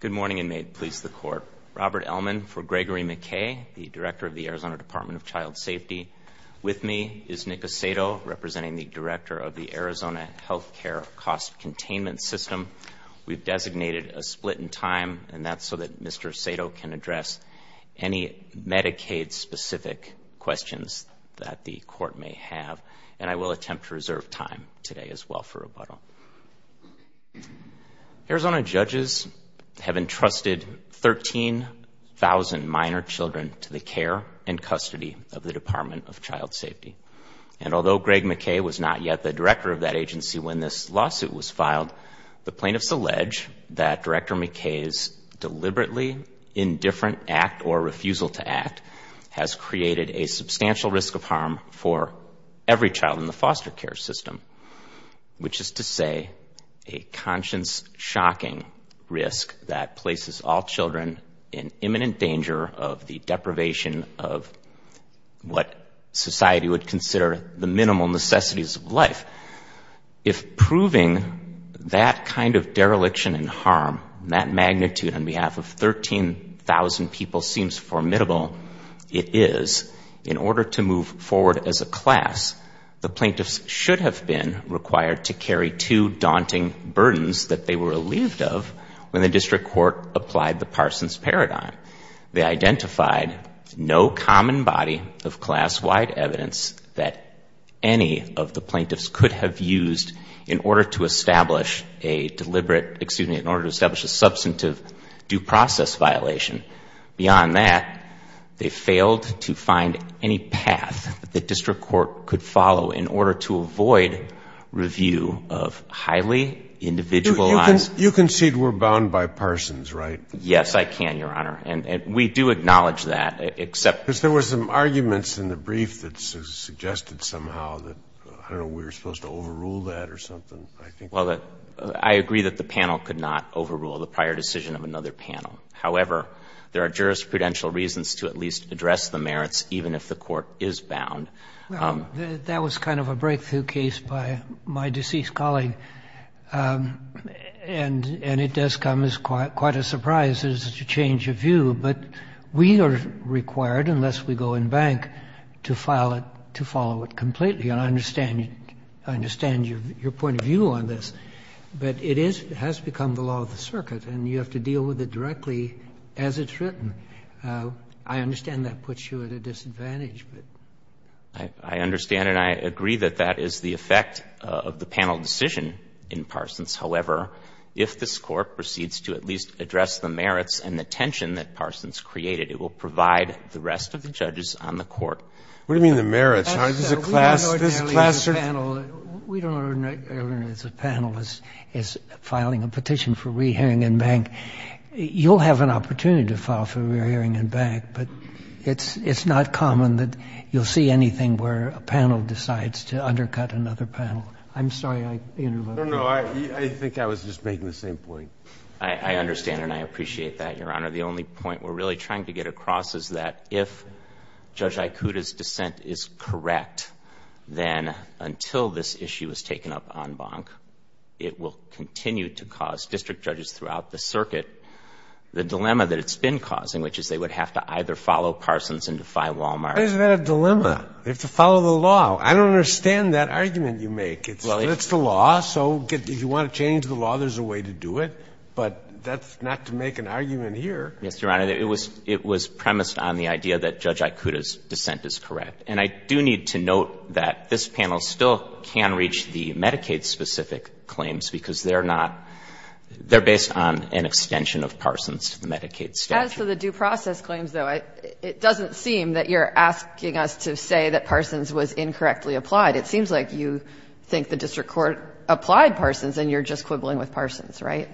Good morning, and may it please the Court. Robert Ellman for Gregory McKay, the Director of the Arizona Department of Child Safety. With me is Nick Asato, representing the Director of the Arizona Health Care Cost Containment System. We've designated a split in time, and that's so that Mr. Asato can address any Medicaid-specific questions that the Court may have, and I will attempt to reserve time today as well for rebuttal. Arizona judges have entrusted 13,000 minor children to the care and custody of the Department of Child Safety. And although Greg McKay was not yet the director of that agency when this lawsuit was filed, the plaintiffs allege that Director McKay's deliberately indifferent act or refusal to act has created a substantial risk of harm for every child in the foster care system, which is to say a conscience-shocking risk that places all children in imminent danger of the deprivation of what society would consider the minimal necessities of life. If proving that kind of dereliction and harm, that magnitude, on behalf of 13,000 people seems formidable, it is, in order to move forward as a class, the plaintiffs should have been required to carry two daunting burdens that they were relieved of when the district court applied the Parsons paradigm. They identified no common body of class-wide evidence that any of the plaintiffs could have used in order to establish a deliberate, excuse me, in order to establish a substantive due process violation. Beyond that, they failed to find any path that the district court could follow in order to avoid review of highly individualized You concede we're bound by Parsons, right? Yes, I can, Your Honor. And we do acknowledge that, except Because there were some arguments in the brief that suggested somehow that, I don't know, we were supposed to overrule that or something, I think. Well, I agree that the panel could not overrule the prior decision of another panel. However, there are jurisprudential reasons to at least address the merits, even if the court is bound. That was kind of a breakthrough case by my deceased colleague. And it does come as quite a surprise, such a change of view. But we are required, unless we go in bank, to file it, to follow it completely. And I understand your point of view on this. But it has become the law of the circuit, and you have to deal with it directly as it's written. I understand that puts you at a disadvantage, but. I understand and I agree that that is the effect of the panel decision in Parsons. However, if this Court proceeds to at least address the merits and the tension that Parsons created, it will provide the rest of the judges on the Court. What do you mean the merits, Your Honor? We don't ordinarily, as a panel, as filing a petition for re-hearing in bank, you'll have an opportunity to file for re-hearing in bank, but it's not common that you'll see anything where a panel decides to undercut another panel. I'm sorry I interrupted. No, no. I think I was just making the same point. I understand and I appreciate that, Your Honor. The only point we're really trying to get across is that if Judge Aikuda's dissent is correct, then until this issue is taken up on bank, it will continue to cause district judges throughout the circuit. The dilemma that it's been causing, which is they would have to either follow Parsons and defy Wal-Mart. But isn't that a dilemma? They have to follow the law. I don't understand that argument you make. It's the law, so if you want to change the law, there's a way to do it. But that's not to make an argument here. Yes, Your Honor. It was premised on the idea that Judge Aikuda's dissent is correct. And I do need to note that this panel still can reach the Medicaid-specific claims because they're not — they're based on an extension of Parsons to the Medicaid statute. As for the due process claims, though, it doesn't seem that you're asking us to say that Parsons was incorrectly applied. It seems like you think the district court applied Parsons and you're just quibbling with Parsons, right?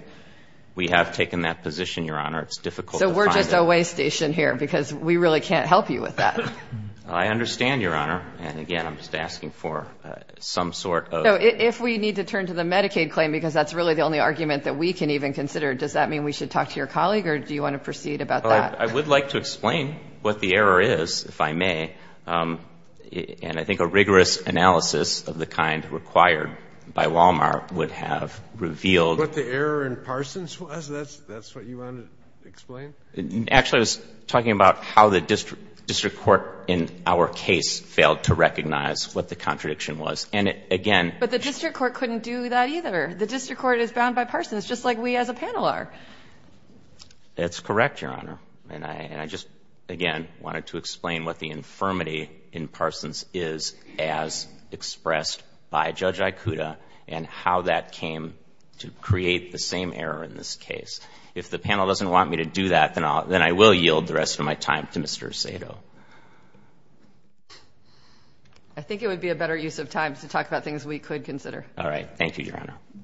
We have taken that position, Your Honor. It's difficult to find it. So we're just a way station here because we really can't help you with that. I understand, Your Honor. And again, I'm just asking for some sort of — So if we need to turn to the Medicaid claim because that's really the only argument that we can even consider, does that mean we should talk to your colleague or do you want to proceed about that? Well, I would like to explain what the error is, if I may. And I think a rigorous analysis of the kind required by Wal-Mart would have revealed What the error in Parsons was? That's what you wanted to explain? Actually, I was talking about how the district court in our case failed to recognize what the contradiction was. And again But the district court couldn't do that either. The district court is bound by Parsons, just like we as a panel are. That's correct, Your Honor. And I just, again, wanted to explain what the infirmity in Parsons is as expressed by Judge Ikuda and how that came to create the same error in this case. If the panel doesn't want me to do that, then I will yield the rest of my time to Mr. Sato. I think it would be a better use of time to talk about things we could consider. All right. Thank you, Your Honor. Thank you.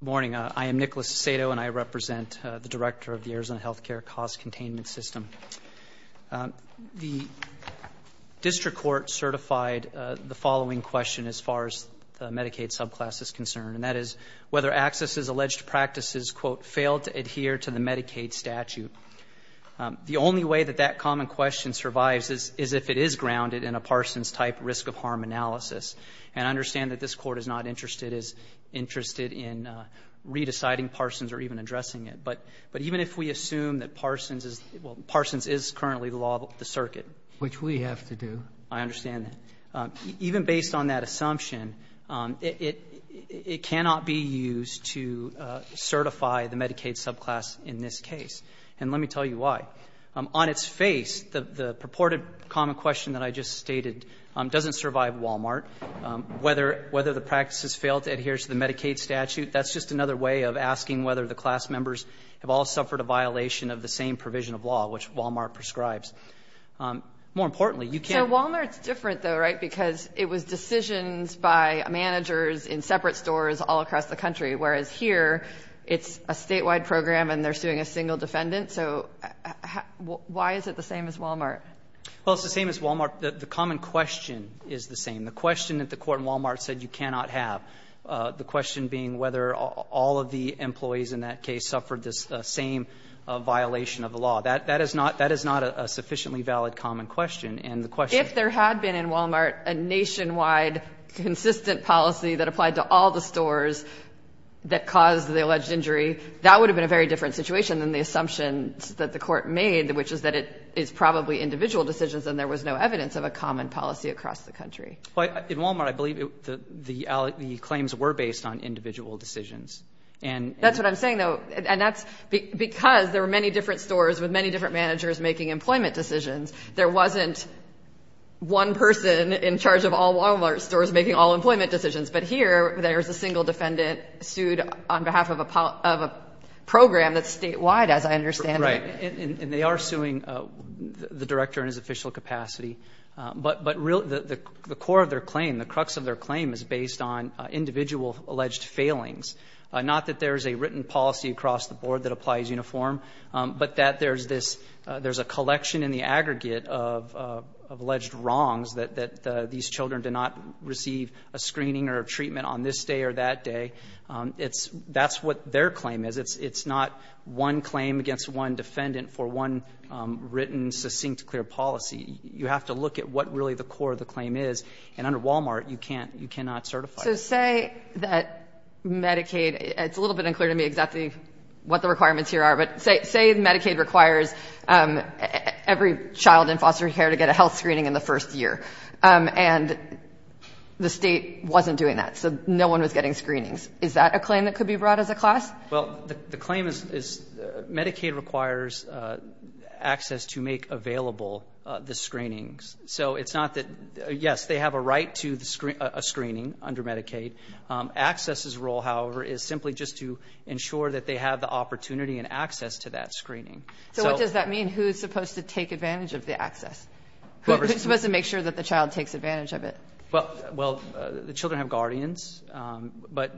Good morning. I am Nicholas Sato, and I represent the director of the Arizona Health Care Cost Containment System. The district court certified the following question as far as the Medicaid subclass is concerned, and that is whether AXIS's alleged practices, quote, failed to adhere to the Medicaid statute. The only way that that common question survives is if it is grounded in a Parsons-type risk-of-harm analysis. And I understand that this Court is not interested in redeciding Parsons or even addressing it, but even if we assume that Parsons is the law of the circuit. Which we have to do. I understand that. Even based on that assumption, it cannot be used to certify the Medicaid subclass in this case. And let me tell you why. On its face, the purported common question that I just stated doesn't survive Wal-Mart. Whether the practices failed to adhere to the Medicaid statute, that's just another way of asking whether the class members have all suffered a violation of the same provision of law, which Wal-Mart prescribes. More importantly, you can't. But Wal-Mart is different, though, right, because it was decisions by managers in separate stores all across the country, whereas here it's a statewide program and they're suing a single defendant. So why is it the same as Wal-Mart? Well, it's the same as Wal-Mart. The common question is the same. The question that the Court in Wal-Mart said you cannot have, the question being whether all of the employees in that case suffered the same violation of the law. That is not a sufficiently valid common question. And the question ---- If there had been in Wal-Mart a nationwide consistent policy that applied to all the stores that caused the alleged injury that would have been a very different situation than the assumption that the Court made, which is that it's probably individual decisions and there was no evidence of a common policy across the country. Well, in Wal-Mart, I believe the claims were based on individual decisions. And ---- That's what I'm saying, though. And that's because there were many different stores with many different managers making employment decisions. There wasn't one person in charge of all Wal-Mart stores making all employment decisions. But here, there's a single defendant sued on behalf of a program that's statewide, as I understand it. Right. And they are suing the director in his official capacity. But the core of their claim, the crux of their claim, is based on individual alleged failings, not that there's a written policy across the board that applies uniform, but that there's this ---- there's a collection in the aggregate of alleged wrongs that these children did not receive a screening or a treatment on this day or that day. It's ---- that's what their claim is. It's not one claim against one defendant for one written, succinct, clear policy. You have to look at what really the core of the claim is. And under Wal-Mart, you can't ---- you cannot certify it. So say that Medicaid ---- it's a little bit unclear to me exactly what the requirements here are, but say Medicaid requires every child in foster care to get a health screening in the first year. And the State wasn't doing that, so no one was getting screenings. Is that a claim that could be brought as a class? Well, the claim is Medicaid requires access to make available the screenings. So it's not that ---- yes, they have a right to a screening under Medicaid. Access's role, however, is simply just to ensure that they have the opportunity and access to that screening. So what does that mean? Who is supposed to take advantage of the access? Whoever's supposed to make sure that the child takes advantage of it? Well, the children have guardians, but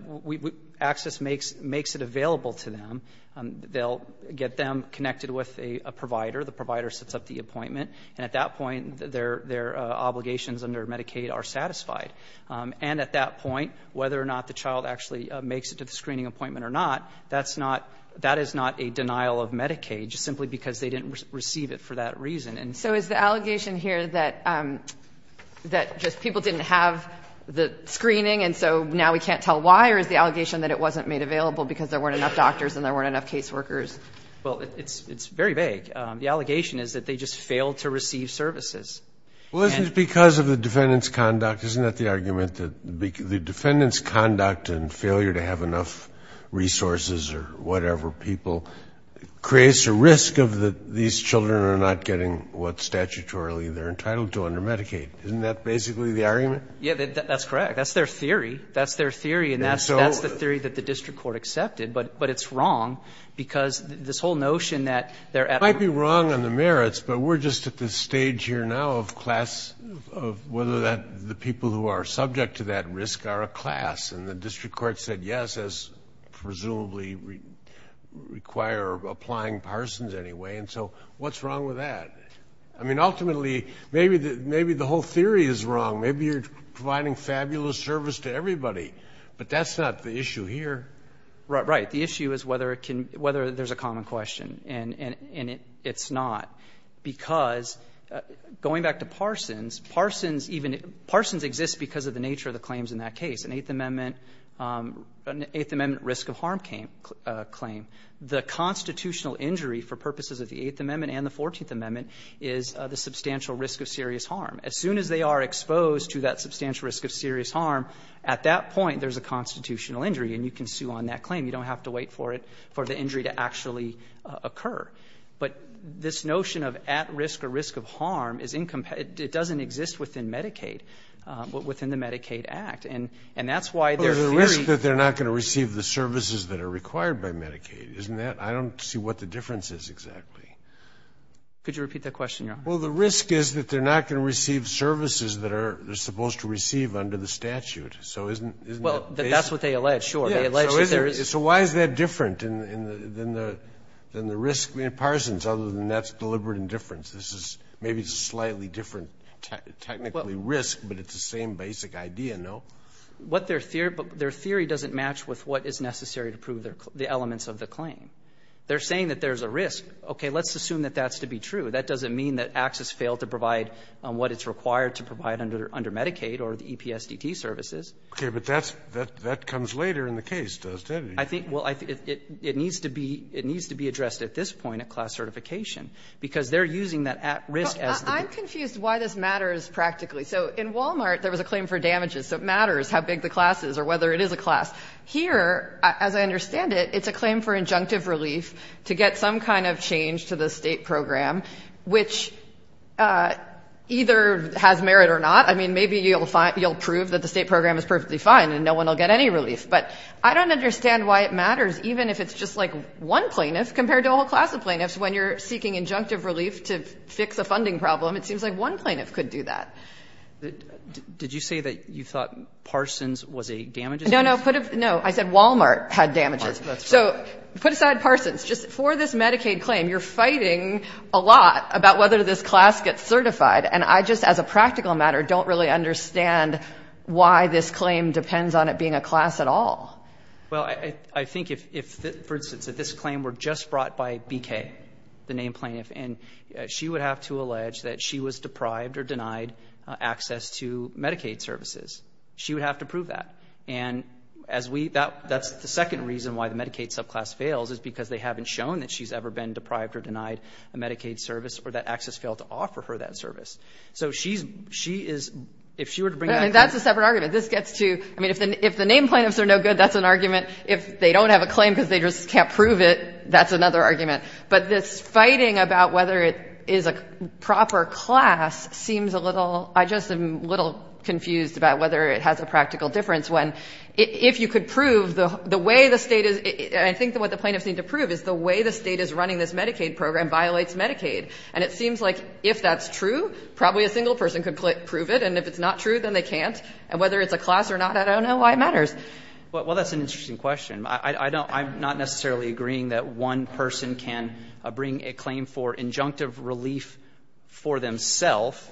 access makes it available to them. They'll get them connected with a provider. The provider sets up the appointment. And at that point, their obligations under Medicaid are satisfied. And at that point, whether or not the child actually makes it to the screening appointment or not, that's not ---- that is not a denial of Medicaid, just simply because they didn't receive it for that reason. And so is the allegation here that just people didn't have the screening and so now we can't tell why, or is the allegation that it wasn't made available because there weren't enough doctors and there weren't enough caseworkers? Well, it's very vague. The allegation is that they just failed to receive services. Well, isn't it because of the defendant's conduct? Isn't that the argument, that the defendant's conduct and failure to have enough resources or whatever people creates a risk of these children are not getting what statutorily they're entitled to under Medicaid? Isn't that basically the argument? Yeah, that's correct. That's their theory. That's their theory. And that's the theory that the district court accepted. But it's wrong, because this whole notion that they're at a ---- It might be wrong on the merits, but we're just at the stage here now of class, of whether the people who are subject to that risk are a class. And the district court said yes, as presumably require applying Parsons anyway. And so what's wrong with that? I mean, ultimately, maybe the whole theory is wrong. Maybe you're providing fabulous service to everybody. But that's not the issue here. Right. The issue is whether there's a common question. And it's not, because going back to Parsons, Parsons even ---- Parsons exists because of the nature of the claims in that case. An Eighth Amendment risk of harm claim. The constitutional injury for purposes of the Eighth Amendment and the Fourteenth Amendment is the substantial risk of serious harm. As soon as they are exposed to that substantial risk of serious harm, at that point there's a constitutional injury, and you can sue on that claim. You don't have to wait for it, for the injury to actually occur. But this notion of at risk or risk of harm is incompatible. It doesn't exist within Medicaid, within the Medicaid Act. And that's why their theory ---- Well, there's a risk that they're not going to receive the services that are required by Medicaid, isn't there? I don't see what the difference is exactly. Could you repeat that question, Your Honor? Well, the risk is that they're not going to receive services that are supposed to receive under the statute. So isn't that ---- Well, that's what they allege. Sure. So why is that different than the risk in Parsons, other than that's deliberate indifference? This is maybe slightly different technically risk, but it's the same basic idea, no? What their theory doesn't match with what is necessary to prove the elements of the claim. They're saying that there's a risk. Okay. Let's assume that that's to be true. That doesn't mean that AXIS failed to provide what it's required to provide under Medicaid or the EPSDT services. Okay. But that's the ---- that comes later in the case, doesn't it? I think ---- well, I think it needs to be ---- it needs to be addressed at this point at class certification, because they're using that at risk as the ---- I'm confused why this matters practically. So in Walmart, there was a claim for damages, so it matters how big the class is or whether it is a class. Here, as I understand it, it's a claim for injunctive relief to get some kind of change to the State program, which either has merit or not. I mean, maybe you'll prove that the State program is perfectly fine and no one will get any relief. But I don't understand why it matters, even if it's just like one plaintiff compared to a whole class of plaintiffs. When you're seeking injunctive relief to fix a funding problem, it seems like one plaintiff could do that. Did you say that you thought Parsons was a damages case? No, no. Put a ---- no. I said Walmart had damages. That's right. So put aside Parsons. Just for this Medicaid claim, you're fighting a lot about whether this class gets certified. And I just, as a practical matter, don't really understand why this claim depends on it being a class at all. Well, I think if, for instance, if this claim were just brought by BK, the named plaintiff, and she would have to allege that she was deprived or denied access to Medicaid services, she would have to prove that. And as we ---- that's the second reason why the Medicaid subclass fails, is because they haven't shown that she's ever been deprived or denied a Medicaid service or that access failed to offer her that service. So she's ---- she is ---- if she were to bring that ---- I mean, that's a separate argument. This gets to ---- I mean, if the named plaintiffs are no good, that's an argument. If they don't have a claim because they just can't prove it, that's another argument. But this fighting about whether it is a proper class seems a little ---- I just am a little confused about whether it has a practical difference when if you could prove the way the State is ---- I think what the plaintiffs need to prove is the way the State is running this Medicaid program violates Medicaid. And it seems like if that's true, probably a single person could prove it, and if it's not true, then they can't. And whether it's a class or not, I don't know why it matters. Well, that's an interesting question. I don't ---- I'm not necessarily agreeing that one person can bring a claim for injunctive relief for themselves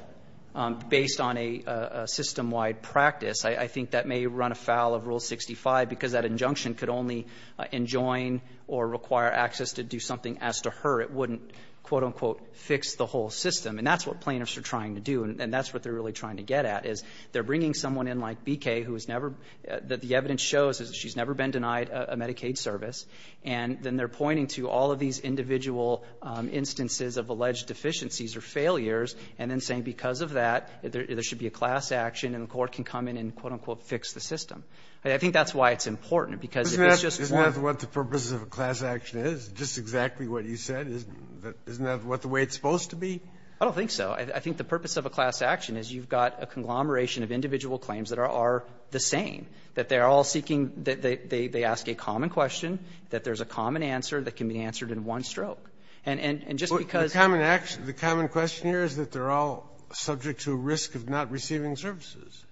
based on a system-wide practice. I think that may run afoul of Rule 65, because that injunction could only enjoin or require access to do something as to her. It wouldn't, quote, unquote, fix the whole system. And that's what plaintiffs are trying to do. And that's what they're really trying to get at, is they're bringing someone in like BK who has never ---- that the evidence shows is that she's never been denied a Medicaid service, and then they're pointing to all of these individual instances of alleged deficiencies or failures, and then saying because of that, there should be a class action and the court can come in and, quote, unquote, fix the system. I think that's why it's important, because if it's just one ---- The purpose of a class action is just exactly what you said. Isn't that what the way it's supposed to be? I don't think so. I think the purpose of a class action is you've got a conglomeration of individual claims that are the same, that they're all seeking the ---- they ask a common question, that there's a common answer that can be answered in one stroke. And just because ---- The common question here is that they're all subject to a risk of not receiving services.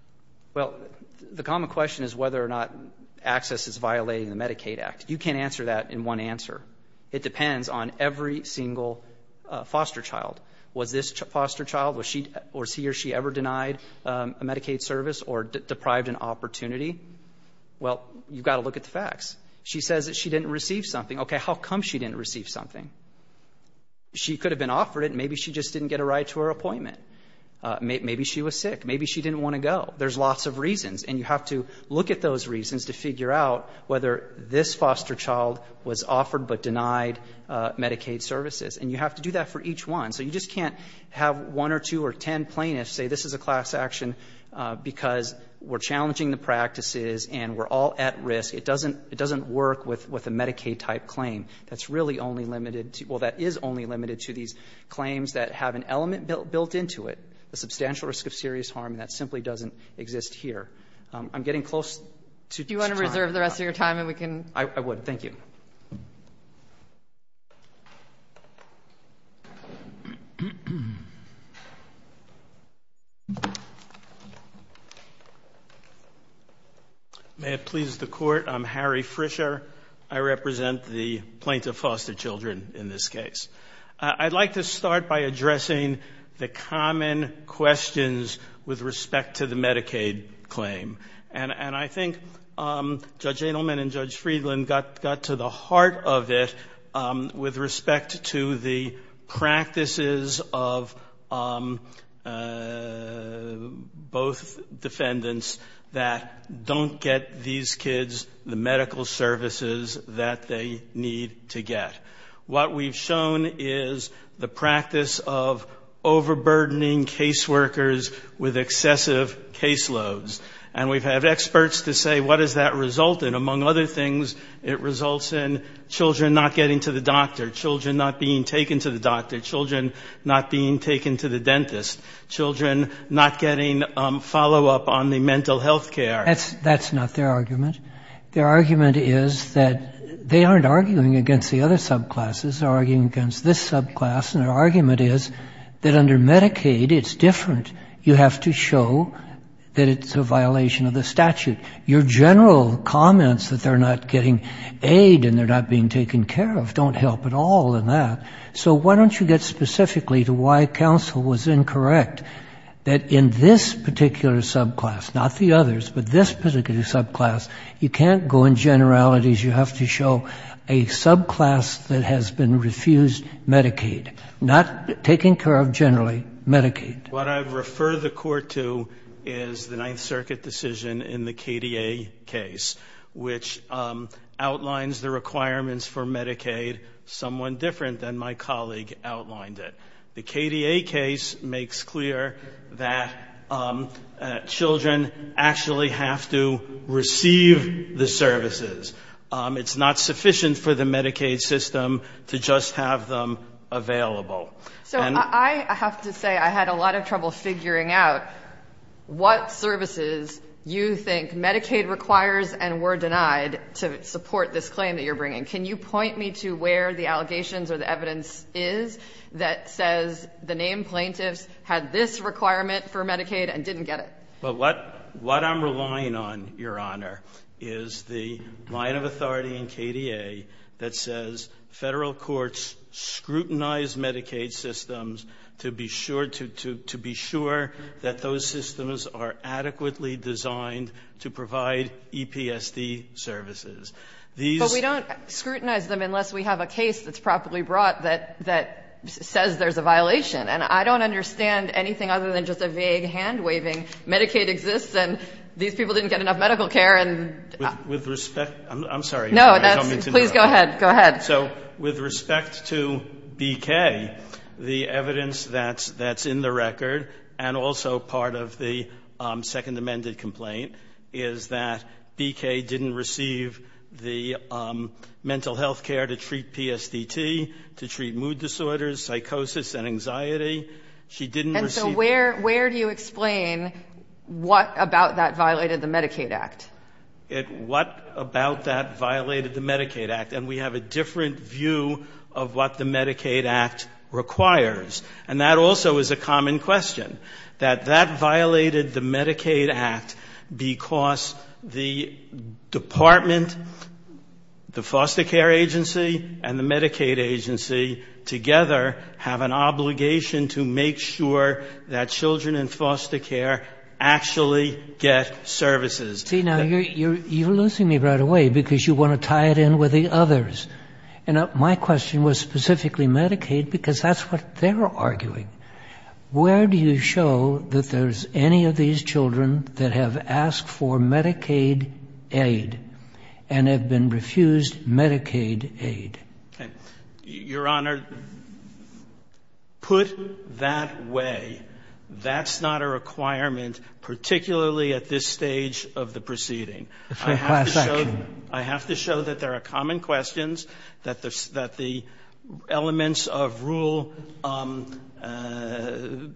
Well, the common question is whether or not access is violating the Medicaid Act. You can't answer that in one answer. It depends on every single foster child. Was this foster child, was she or he or she ever denied a Medicaid service or deprived an opportunity? Well, you've got to look at the facts. She says that she didn't receive something. Okay, how come she didn't receive something? She could have been offered it. Maybe she just didn't get a ride to her appointment. Maybe she was sick. Maybe she didn't want to go. There's lots of reasons, and you have to look at those reasons to figure out whether this foster child was offered but denied Medicaid services. And you have to do that for each one. So you just can't have one or two or ten plaintiffs say this is a class action because we're challenging the practices and we're all at risk. It doesn't work with a Medicaid-type claim. That's really only limited to ---- well, that is only limited to these claims that have an element built into it, a substantial risk of serious harm that simply doesn't exist here. I'm getting close to time. I would. Thank you. May it please the Court, I'm Harry Frischer. I represent the plaintiff foster children in this case. I'd like to start by addressing the common questions with respect to the Medicaid claim. And I think Judge Adelman and Judge Friedland got to the heart of it with respect to the practices of both defendants that don't get these kids the medical services that they need to get. What we've shown is the practice of overburdening caseworkers with excessive caseloads. And we've had experts to say what does that result in? Among other things, it results in children not getting to the doctor, children not being taken to the doctor, children not being taken to the dentist, children not getting follow-up on the mental health care. That's not their argument. Their argument is that they aren't arguing against the other subclasses. They're arguing against this subclass. And their argument is that under Medicaid it's different. You have to show that it's a violation of the statute. Your general comments that they're not getting aid and they're not being taken care of don't help at all in that. So why don't you get specifically to why counsel was incorrect, that in this particular subclass, not the others, but this particular subclass, you can't go in generalities. You have to show a subclass that has been refused Medicaid, not taking care of generally Medicaid. What I refer the court to is the Ninth Circuit decision in the KDA case, which outlines the requirements for Medicaid someone different than my colleague outlined it. The KDA case makes clear that children actually have to receive the services. It's not sufficient for the Medicaid system to just have them available. And I have to say I had a lot of trouble figuring out what services you think Medicaid requires and were denied to support this claim that you're bringing. Can you point me to where the allegations or the evidence is that says the named plaintiffs had this requirement for Medicaid and didn't get it? Well, what I'm relying on, Your Honor, is the line of authority in KDA that says Federal courts scrutinize Medicaid systems to be sure, to be sure that those systems are adequately designed to provide EPSD services. These are. But we don't scrutinize them unless we have a case that's properly brought that says there's a violation. And I don't understand anything other than just a vague hand-waving. Medicaid exists, and these people didn't get enough medical care. And with respect to BK, the evidence that's in the record, and also part of the second-amended complaint, is that BK didn't receive the mental health care to treat PSDT, to treat mood disorders, psychosis, and anxiety. She didn't receive it. And so where do you explain what about that violated the Medicaid Act? What about that violated the Medicaid Act? And we have a different view of what the Medicaid Act requires. And that also is a common question, that that violated the Medicaid Act because the department, the foster care agency and the Medicaid agency together have an obligation to make sure that children in foster care actually get services. See, now, you're losing me right away, because you want to tie it in with the others. And my question was specifically Medicaid, because that's what they're arguing. Where do you show that there's any of these children that have asked for Medicaid aid and have been refused Medicaid aid? Your Honor, put that way, that's not a requirement, particularly at this stage of the proceeding. It's a class action. I have to show that there are common questions, that the elements of rule and the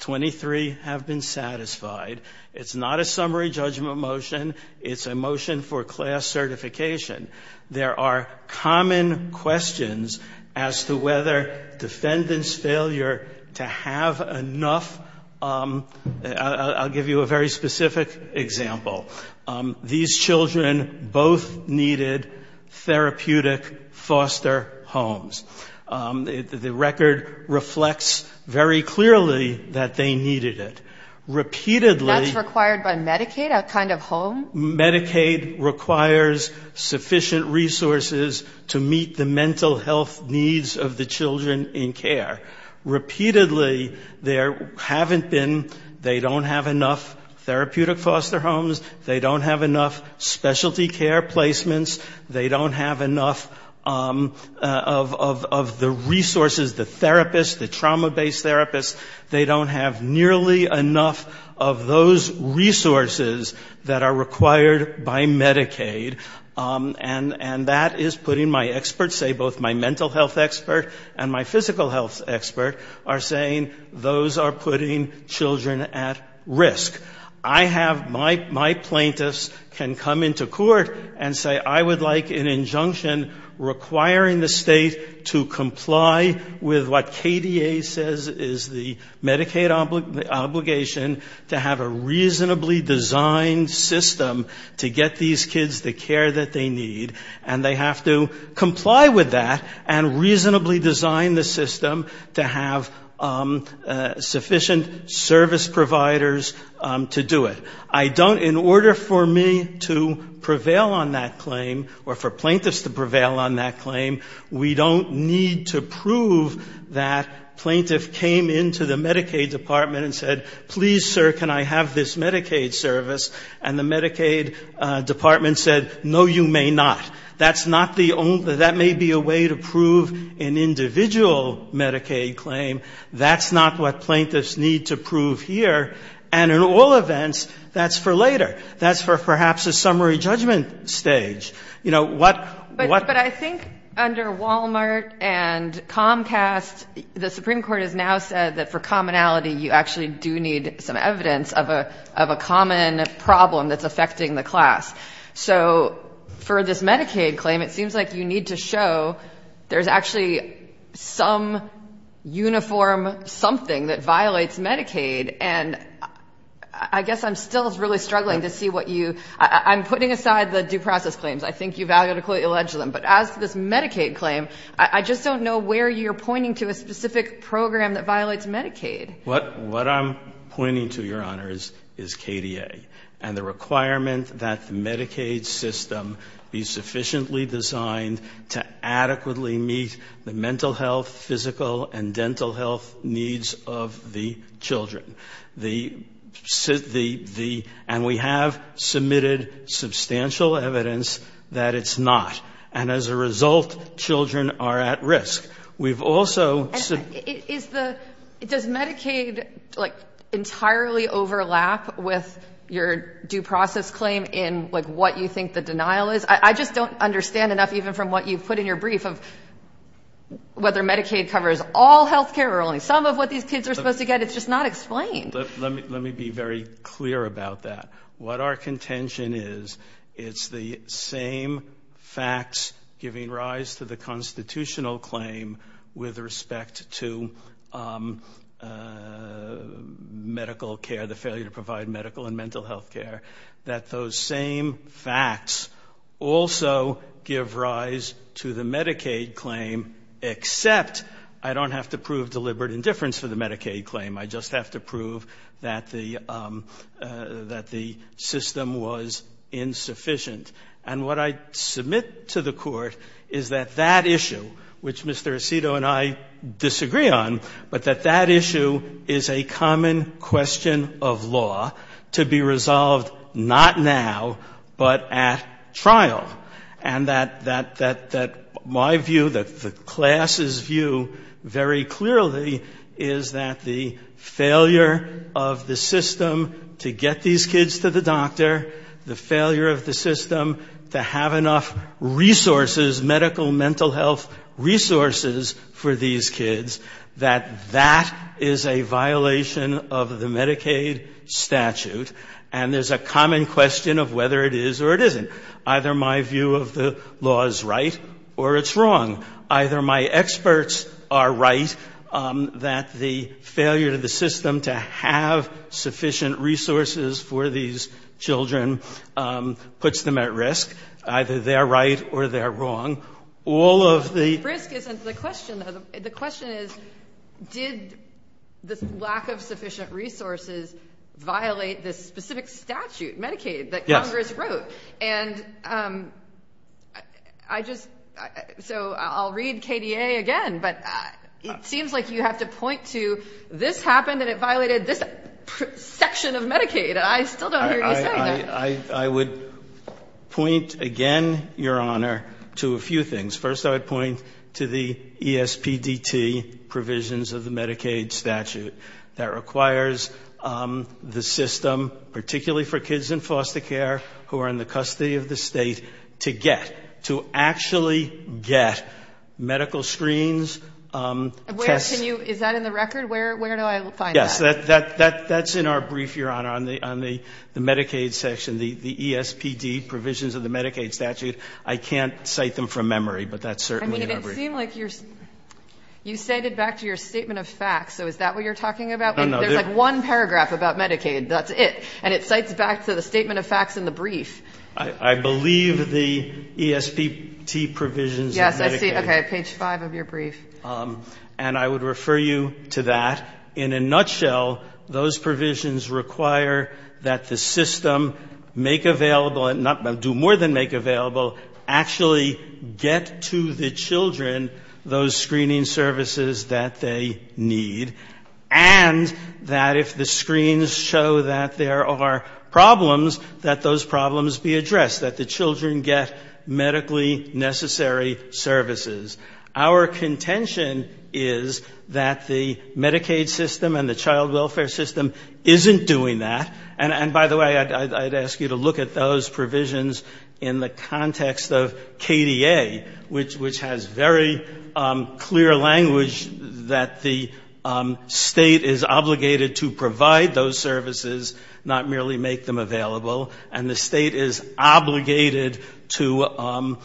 23 have been satisfied. It's not a summary judgment motion. It's a motion for class certification. There are common questions as to whether defendant's failure to have enough, I'll give you a very specific example. These children both needed therapeutic foster homes. The record reflects very clearly that they needed it. Repeatedly... That's required by Medicaid, a kind of home? Medicaid requires sufficient resources to meet the mental health needs of the children in care. Repeatedly, there haven't been, they don't have enough therapeutic foster homes, they don't have enough of the resources, the therapists, the trauma-based therapists, they don't have nearly enough of those resources that are required by Medicaid. And that is putting my experts, both my mental health expert and my physical health expert, are saying those are putting children at risk. I have, my plaintiffs can come into court and say, I would like an injunction requiring the state to comply with what KDA says is the Medicaid obligation to have a reasonably designed system to get these kids the care that they need. And they have to comply with that and reasonably design the system to have sufficient service providers, to do it. I don't, in order for me to prevail on that claim, or for plaintiffs to prevail on that claim, we don't need to prove that plaintiff came into the Medicaid department and said, please, sir, can I have this Medicaid service? And the Medicaid department said, no, you may not. That's not the only, that may be a way to prove an individual Medicaid claim. That's not what plaintiffs need to prove here. And in all events, that's for later. That's for perhaps a summary judgment stage. You know, what — But I think under Walmart and Comcast, the Supreme Court has now said that for commonality, you actually do need some evidence of a common problem that's affecting the class. So for this Medicaid claim, it seems like you need to show there's actually some uniform something that violates Medicaid. And I guess I'm still really struggling to see what you — I'm putting aside the due process claims. I think you validly allege them. But as to this Medicaid claim, I just don't know where you're pointing to a specific program that violates Medicaid. What I'm pointing to, Your Honors, is KDA and the requirement that the Medicaid system be sufficiently designed to adequately meet the mental health, physical and dental health needs of the children. The — and we have submitted substantial evidence that it's not. And as a result, children are at risk. We've also — Is the — does Medicaid, like, entirely overlap with your due process claim in, like, what you think the denial is? I just don't understand enough even from what you put in your brief of whether Medicaid covers all health care or only some of what these kids are supposed to get. It's just not explained. Let me be very clear about that. What our contention is, it's the same facts giving rise to the constitutional claim with respect to medical care, the failure to provide medical and mental health care, that those same facts also give rise to the Medicaid claim, except I don't have to prove deliberate indifference for the Medicaid claim. I just have to prove that the — that the system was insufficient. And what I submit to the Court is that that issue, which Mr. Aceto and I disagree on, but that that issue is a common question of law to be resolved not now, but at trial. And that my view, the class's view very clearly is that the failure of the system to get these kids to the doctor, the failure of the system to have enough resources, medical, mental health resources for these kids, that that is a violation of the Medicaid statute. And there's a common question of whether it is or it isn't. Either my view of the law is right or it's wrong. Either my experts are right that the failure of the system to have sufficient resources for these children puts them at risk. Either they're right or they're wrong. All of the — The risk isn't the question, though. The question is, did the lack of sufficient resources violate this specific statute, Medicaid, that Congress wrote? And I just — so I'll read KDA again. But it seems like you have to point to this happened and it violated this section of Medicaid. I still don't hear you saying that. I would point again, Your Honor, to a few things. First, I would point to the ESPDT provisions of the Medicaid statute. That requires the system, particularly for kids in foster care who are in the custody of the State, to get, to actually get medical screens, tests — Where can you — is that in the record? Where do I find that? Yes. That's in our brief, Your Honor, on the Medicaid section, the ESPDT provisions of the Medicaid statute. I can't cite them from memory, but that's certainly in our brief. I mean, it didn't seem like you're — you cited back to your statement of facts. So is that what you're talking about? No, no. There's like one paragraph about Medicaid. That's it. And it cites back to the statement of facts in the brief. I believe the ESPDT provisions of Medicaid. Yes, I see. Okay. Page 5 of your brief. And I would refer you to that. In a nutshell, those provisions require that the system make available — do more than those screening services that they need, and that if the screens show that there are problems, that those problems be addressed, that the children get medically necessary services. Our contention is that the Medicaid system and the child welfare system isn't doing that. And by the way, I'd ask you to look at those provisions in the context of KDA, which has very clear language that the state is obligated to provide those services, not merely make them available, and the state is obligated to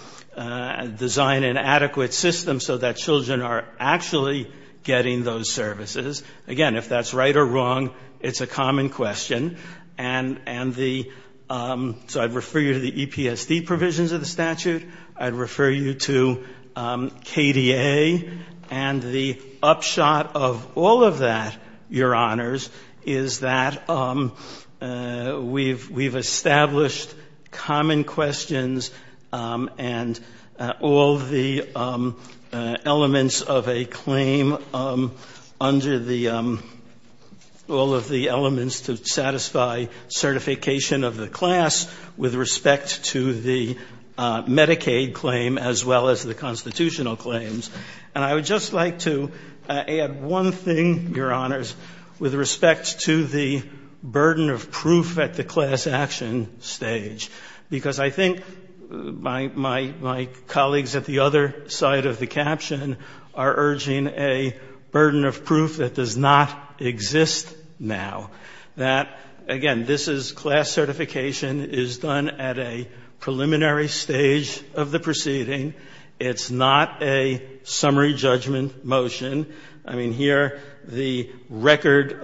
design an adequate system so that children are actually getting those services. Again, if that's right or wrong, it's a common question. So I'd refer you to the EPSD provisions of the statute. I'd refer you to KDA. And the upshot of all of that, Your Honors, is that we've established common questions and all the elements of a claim under the — all of the elements to satisfy certification of the class with respect to the Medicaid claim as well as the constitutional claims. And I would just like to add one thing, Your Honors, with respect to the burden of proof at the class action stage, because I think my colleagues at the other side of the caption are urging a burden of proof that does not exist now, that, again, this is — class certification is done at a preliminary stage of the proceeding. It's not a summary judgment motion. I mean, here, the record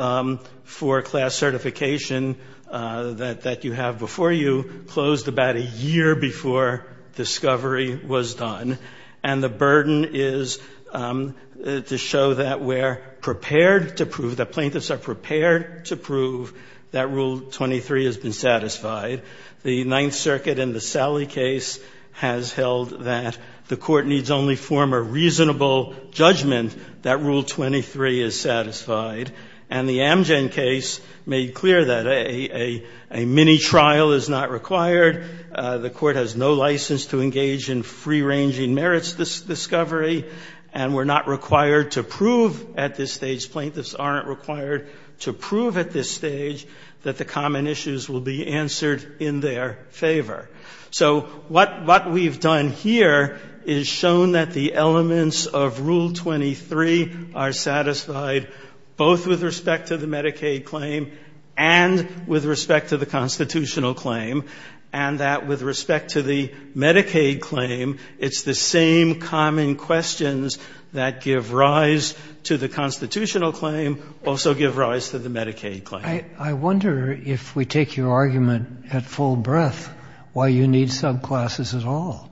for class certification that you have before you closed about a year before discovery was done. And the burden is to show that we're prepared to prove, that plaintiffs are prepared to prove, that Rule 23 has been satisfied. The Ninth Circuit in the Sallie case has held that the Court needs only form a reasonable judgment that Rule 23 is satisfied. And the Amgen case made clear that a mini-trial is not required. The Court has no license to engage in free-ranging merits discovery. And we're not required to prove at this stage, plaintiffs aren't required to prove at this stage, that the common issues will be answered in their favor. So what we've done here is shown that the elements of Rule 23 are satisfied, both with respect to the Medicaid claim and with respect to the constitutional claim, and that with respect to the Medicaid claim, it's the same common questions that give rise to the constitutional claim, also give rise to the Medicaid claim. I wonder, if we take your argument at full breath, why you need subclasses at all.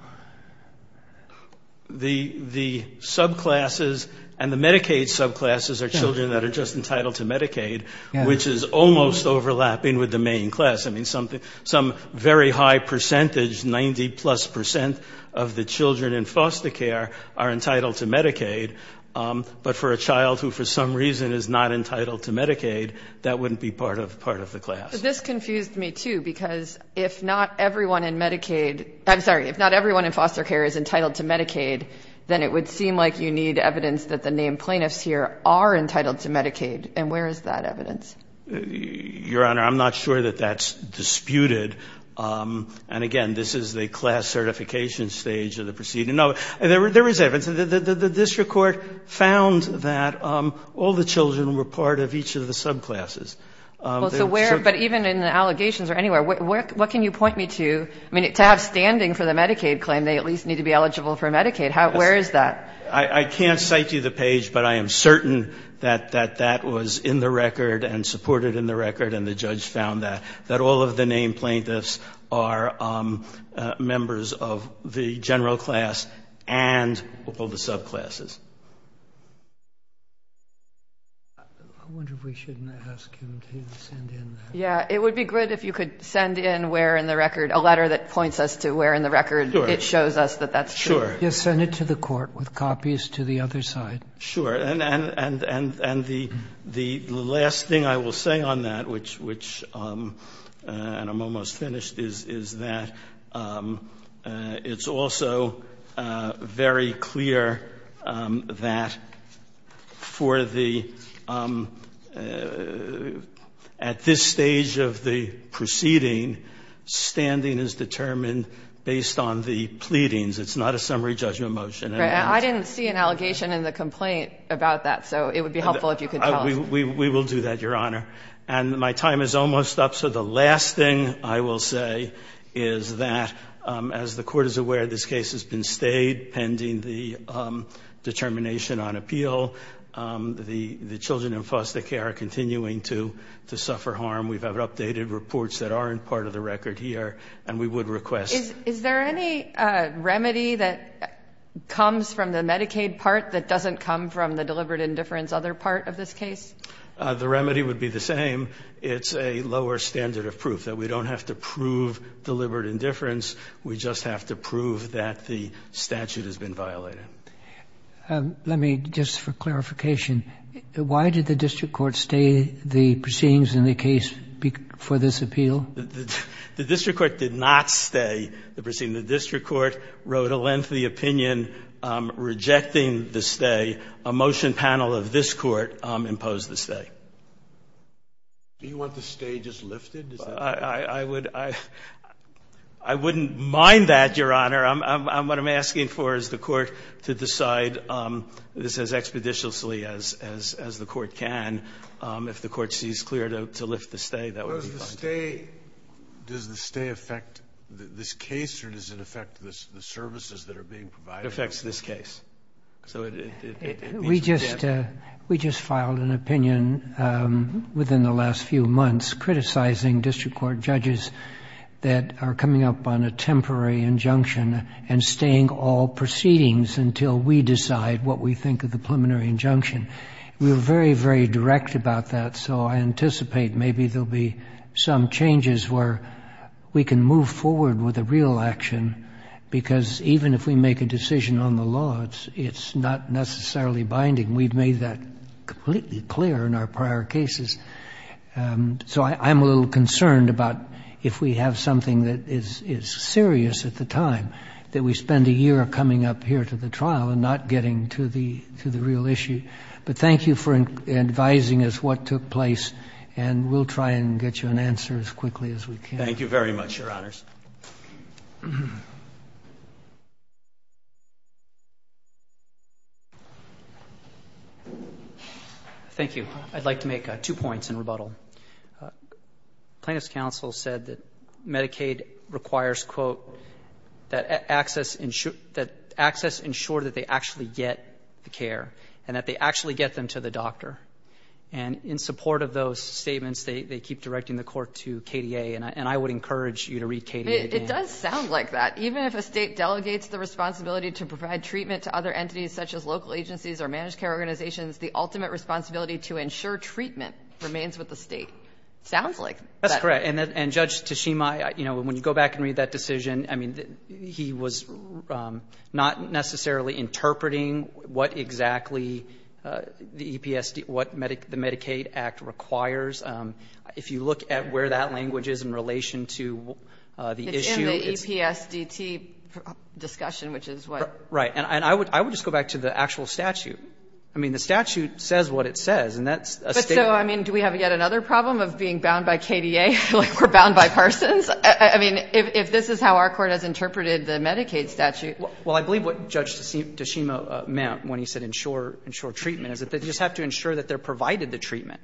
The subclasses and the Medicaid subclasses are children that are just entitled to Medicaid, which is almost overlapping with the main class. I mean, some very high percentage, 90-plus percent of the children in foster care are entitled to Medicaid. But for a child who, for some reason, is not entitled to Medicaid, that wouldn't be part of the class. But this confused me, too, because if not everyone in Medicaid — I'm sorry, if not everyone in foster care is entitled to Medicaid, then it would seem like you need evidence that the named child is entitled to Medicaid, and that's not evidence. Your Honor, I'm not sure that that's disputed. And again, this is the class certification stage of the proceeding. No, there is evidence. The district court found that all the children were part of each of the subclasses. Well, so where — but even in the allegations or anywhere, what can you point me to? I mean, to have standing for the Medicaid claim, they at least need to be eligible for Medicaid. Where is that? I can't cite you the page, but I am certain that that was in the record and supported in the record, and the judge found that, that all of the named plaintiffs are members of the general class and all the subclasses. I wonder if we shouldn't ask him to send in that. Yeah, it would be good if you could send in where in the record — a letter that points us to Sure. Yes, send it to the court with copies to the other side. Sure. And the last thing I will say on that, which — and I'm almost finished — is that it's also very clear that for the — at this stage of the proceeding, standing is determined based on the pleadings. It's not a summary judgment motion. Right. I didn't see an allegation in the complaint about that, so it would be helpful if you could tell us. We will do that, Your Honor. And my time is almost up, so the last thing I will say is that, as the Court is aware, this case has been stayed pending the determination on appeal. The children in foster care are continuing to suffer harm. We've had updated reports that aren't part of the record here, and we would request Is there any remedy that comes from the Medicaid part that doesn't come from the deliberate indifference other part of this case? The remedy would be the same. It's a lower standard of proof, that we don't have to prove deliberate indifference. We just have to prove that the statute has been violated. Let me, just for clarification, why did the district court stay the proceedings in the case for this appeal? The district court did not stay the proceeding. The district court wrote a lengthy opinion rejecting the stay. A motion panel of this Court imposed the stay. Do you want the stay just lifted? I wouldn't mind that, Your Honor. What I'm asking for is the Court to decide this as expeditiously as the Court can. If the Court sees clear to lift the stay, that would be fine. Does the stay affect this case, or does it affect the services that are being provided? It affects this case. We just filed an opinion within the last few months criticizing district court judges that are coming up on a temporary injunction and staying all proceedings until we decide what we think of the preliminary injunction. We were very, very direct about that, so I anticipate maybe there will be some changes where we can move forward with a real action, because even if we make a decision on the law, it's not necessarily binding. We've made that completely clear in our prior cases. So I'm a little concerned about if we have something that is serious at the time, that we spend a year coming up here to the trial and not getting to the real issue. But thank you for advising us what took place, and we'll try and get you an answer as quickly as we can. Thank you very much, Your Honors. Thank you. I'd like to make two points in rebuttal. Plaintiff's counsel said that Medicaid requires, quote, that access ensure that they actually get the care and that they actually get them to the doctor. And in support of those statements, they keep directing the court to KDA, and I would encourage you to read KDA again. It does sound like that. Even if a state delegates the responsibility to provide treatment to other entities such as local agencies or managed care organizations, the ultimate responsibility to ensure treatment remains with the state. It sounds like that. That's correct. And Judge Tashima, you know, when you go back and read that decision, I mean, he was not necessarily interpreting what exactly the Medicaid Act requires. If you look at where that language is in relation to the issue. It's in the EPSDT discussion, which is what. Right. And I would just go back to the actual statute. I mean, the statute says what it says, and that's a statement. But, so, I mean, do we have yet another problem of being bound by KDA, like we're bound by Parsons? I mean, if this is how our Court has interpreted the Medicaid statute. Well, I believe what Judge Tashima meant when he said ensure treatment is that they just have to ensure that they're provided the treatment.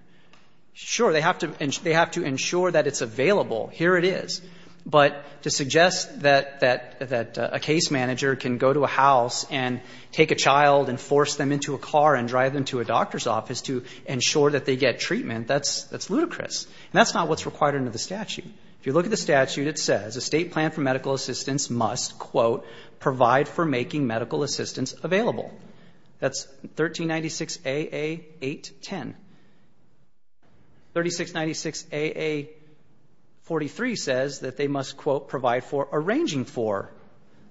Sure, they have to ensure that it's available. Here it is. But to suggest that a case manager can go to a house and take a child and force them into a car and drive them to a doctor's office to ensure that they get treatment, that's ludicrous. And that's not what's required under the statute. If you look at the statute, it says a state plan for medical assistance must, quote, provide for making medical assistance available. That's 1396AA810. 3696AA43 says that they must, quote, provide for arranging for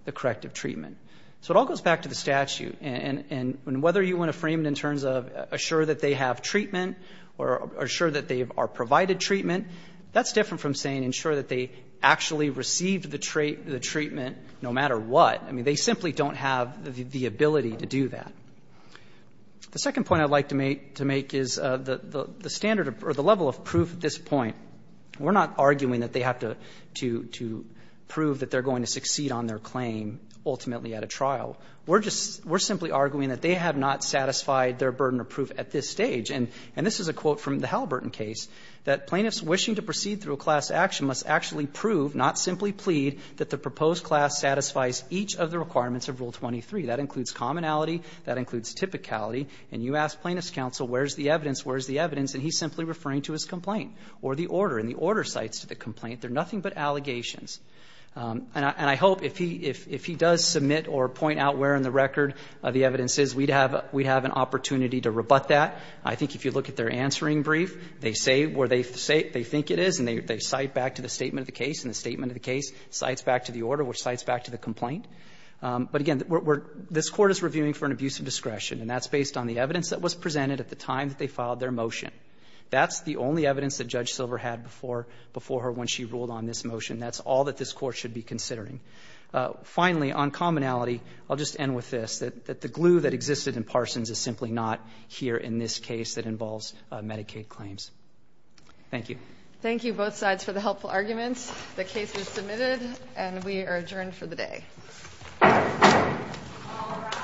the corrective treatment. So it all goes back to the statute. And whether you want to frame it in terms of assure that they have treatment or assure that they are provided treatment, that's different from saying ensure that they actually receive the treatment no matter what. I mean, they simply don't have the ability to do that. The second point I'd like to make is the standard or the level of proof at this point, we're not arguing that they have to prove that they're going to succeed on their claim ultimately at a trial. We're simply arguing that they have not satisfied their burden of proof at this stage. And this is a quote from the Halliburton case, that plaintiffs wishing to proceed through a class action must actually prove, not simply plead, that the proposed class satisfies each of the requirements of Rule 23. That includes commonality. That includes typicality. And you ask plaintiff's counsel, where's the evidence, where's the evidence? And he's simply referring to his complaint or the order. And the order cites to the complaint, they're nothing but allegations. And I hope if he does submit or point out where in the record the evidence is, we'd have an opportunity to rebut that. I think if you look at their answering brief, they say where they think it is and they cite back to the statement of the case. And the statement of the case cites back to the order, which cites back to the complaint. But, again, we're – this Court is reviewing for an abuse of discretion, and that's based on the evidence that was presented at the time that they filed their motion. That's the only evidence that Judge Silver had before her when she ruled on this motion. That's all that this Court should be considering. Finally, on commonality, I'll just end with this, that the glue that existed in Parsons is simply not here in this case that involves Medicaid claims. Thank you. Thank you, both sides, for the helpful arguments. The case is submitted and we are adjourned for the day. All rise.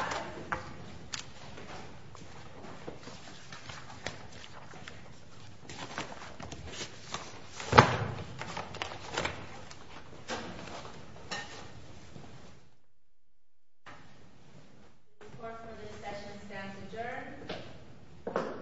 Report for this session stands adjourned.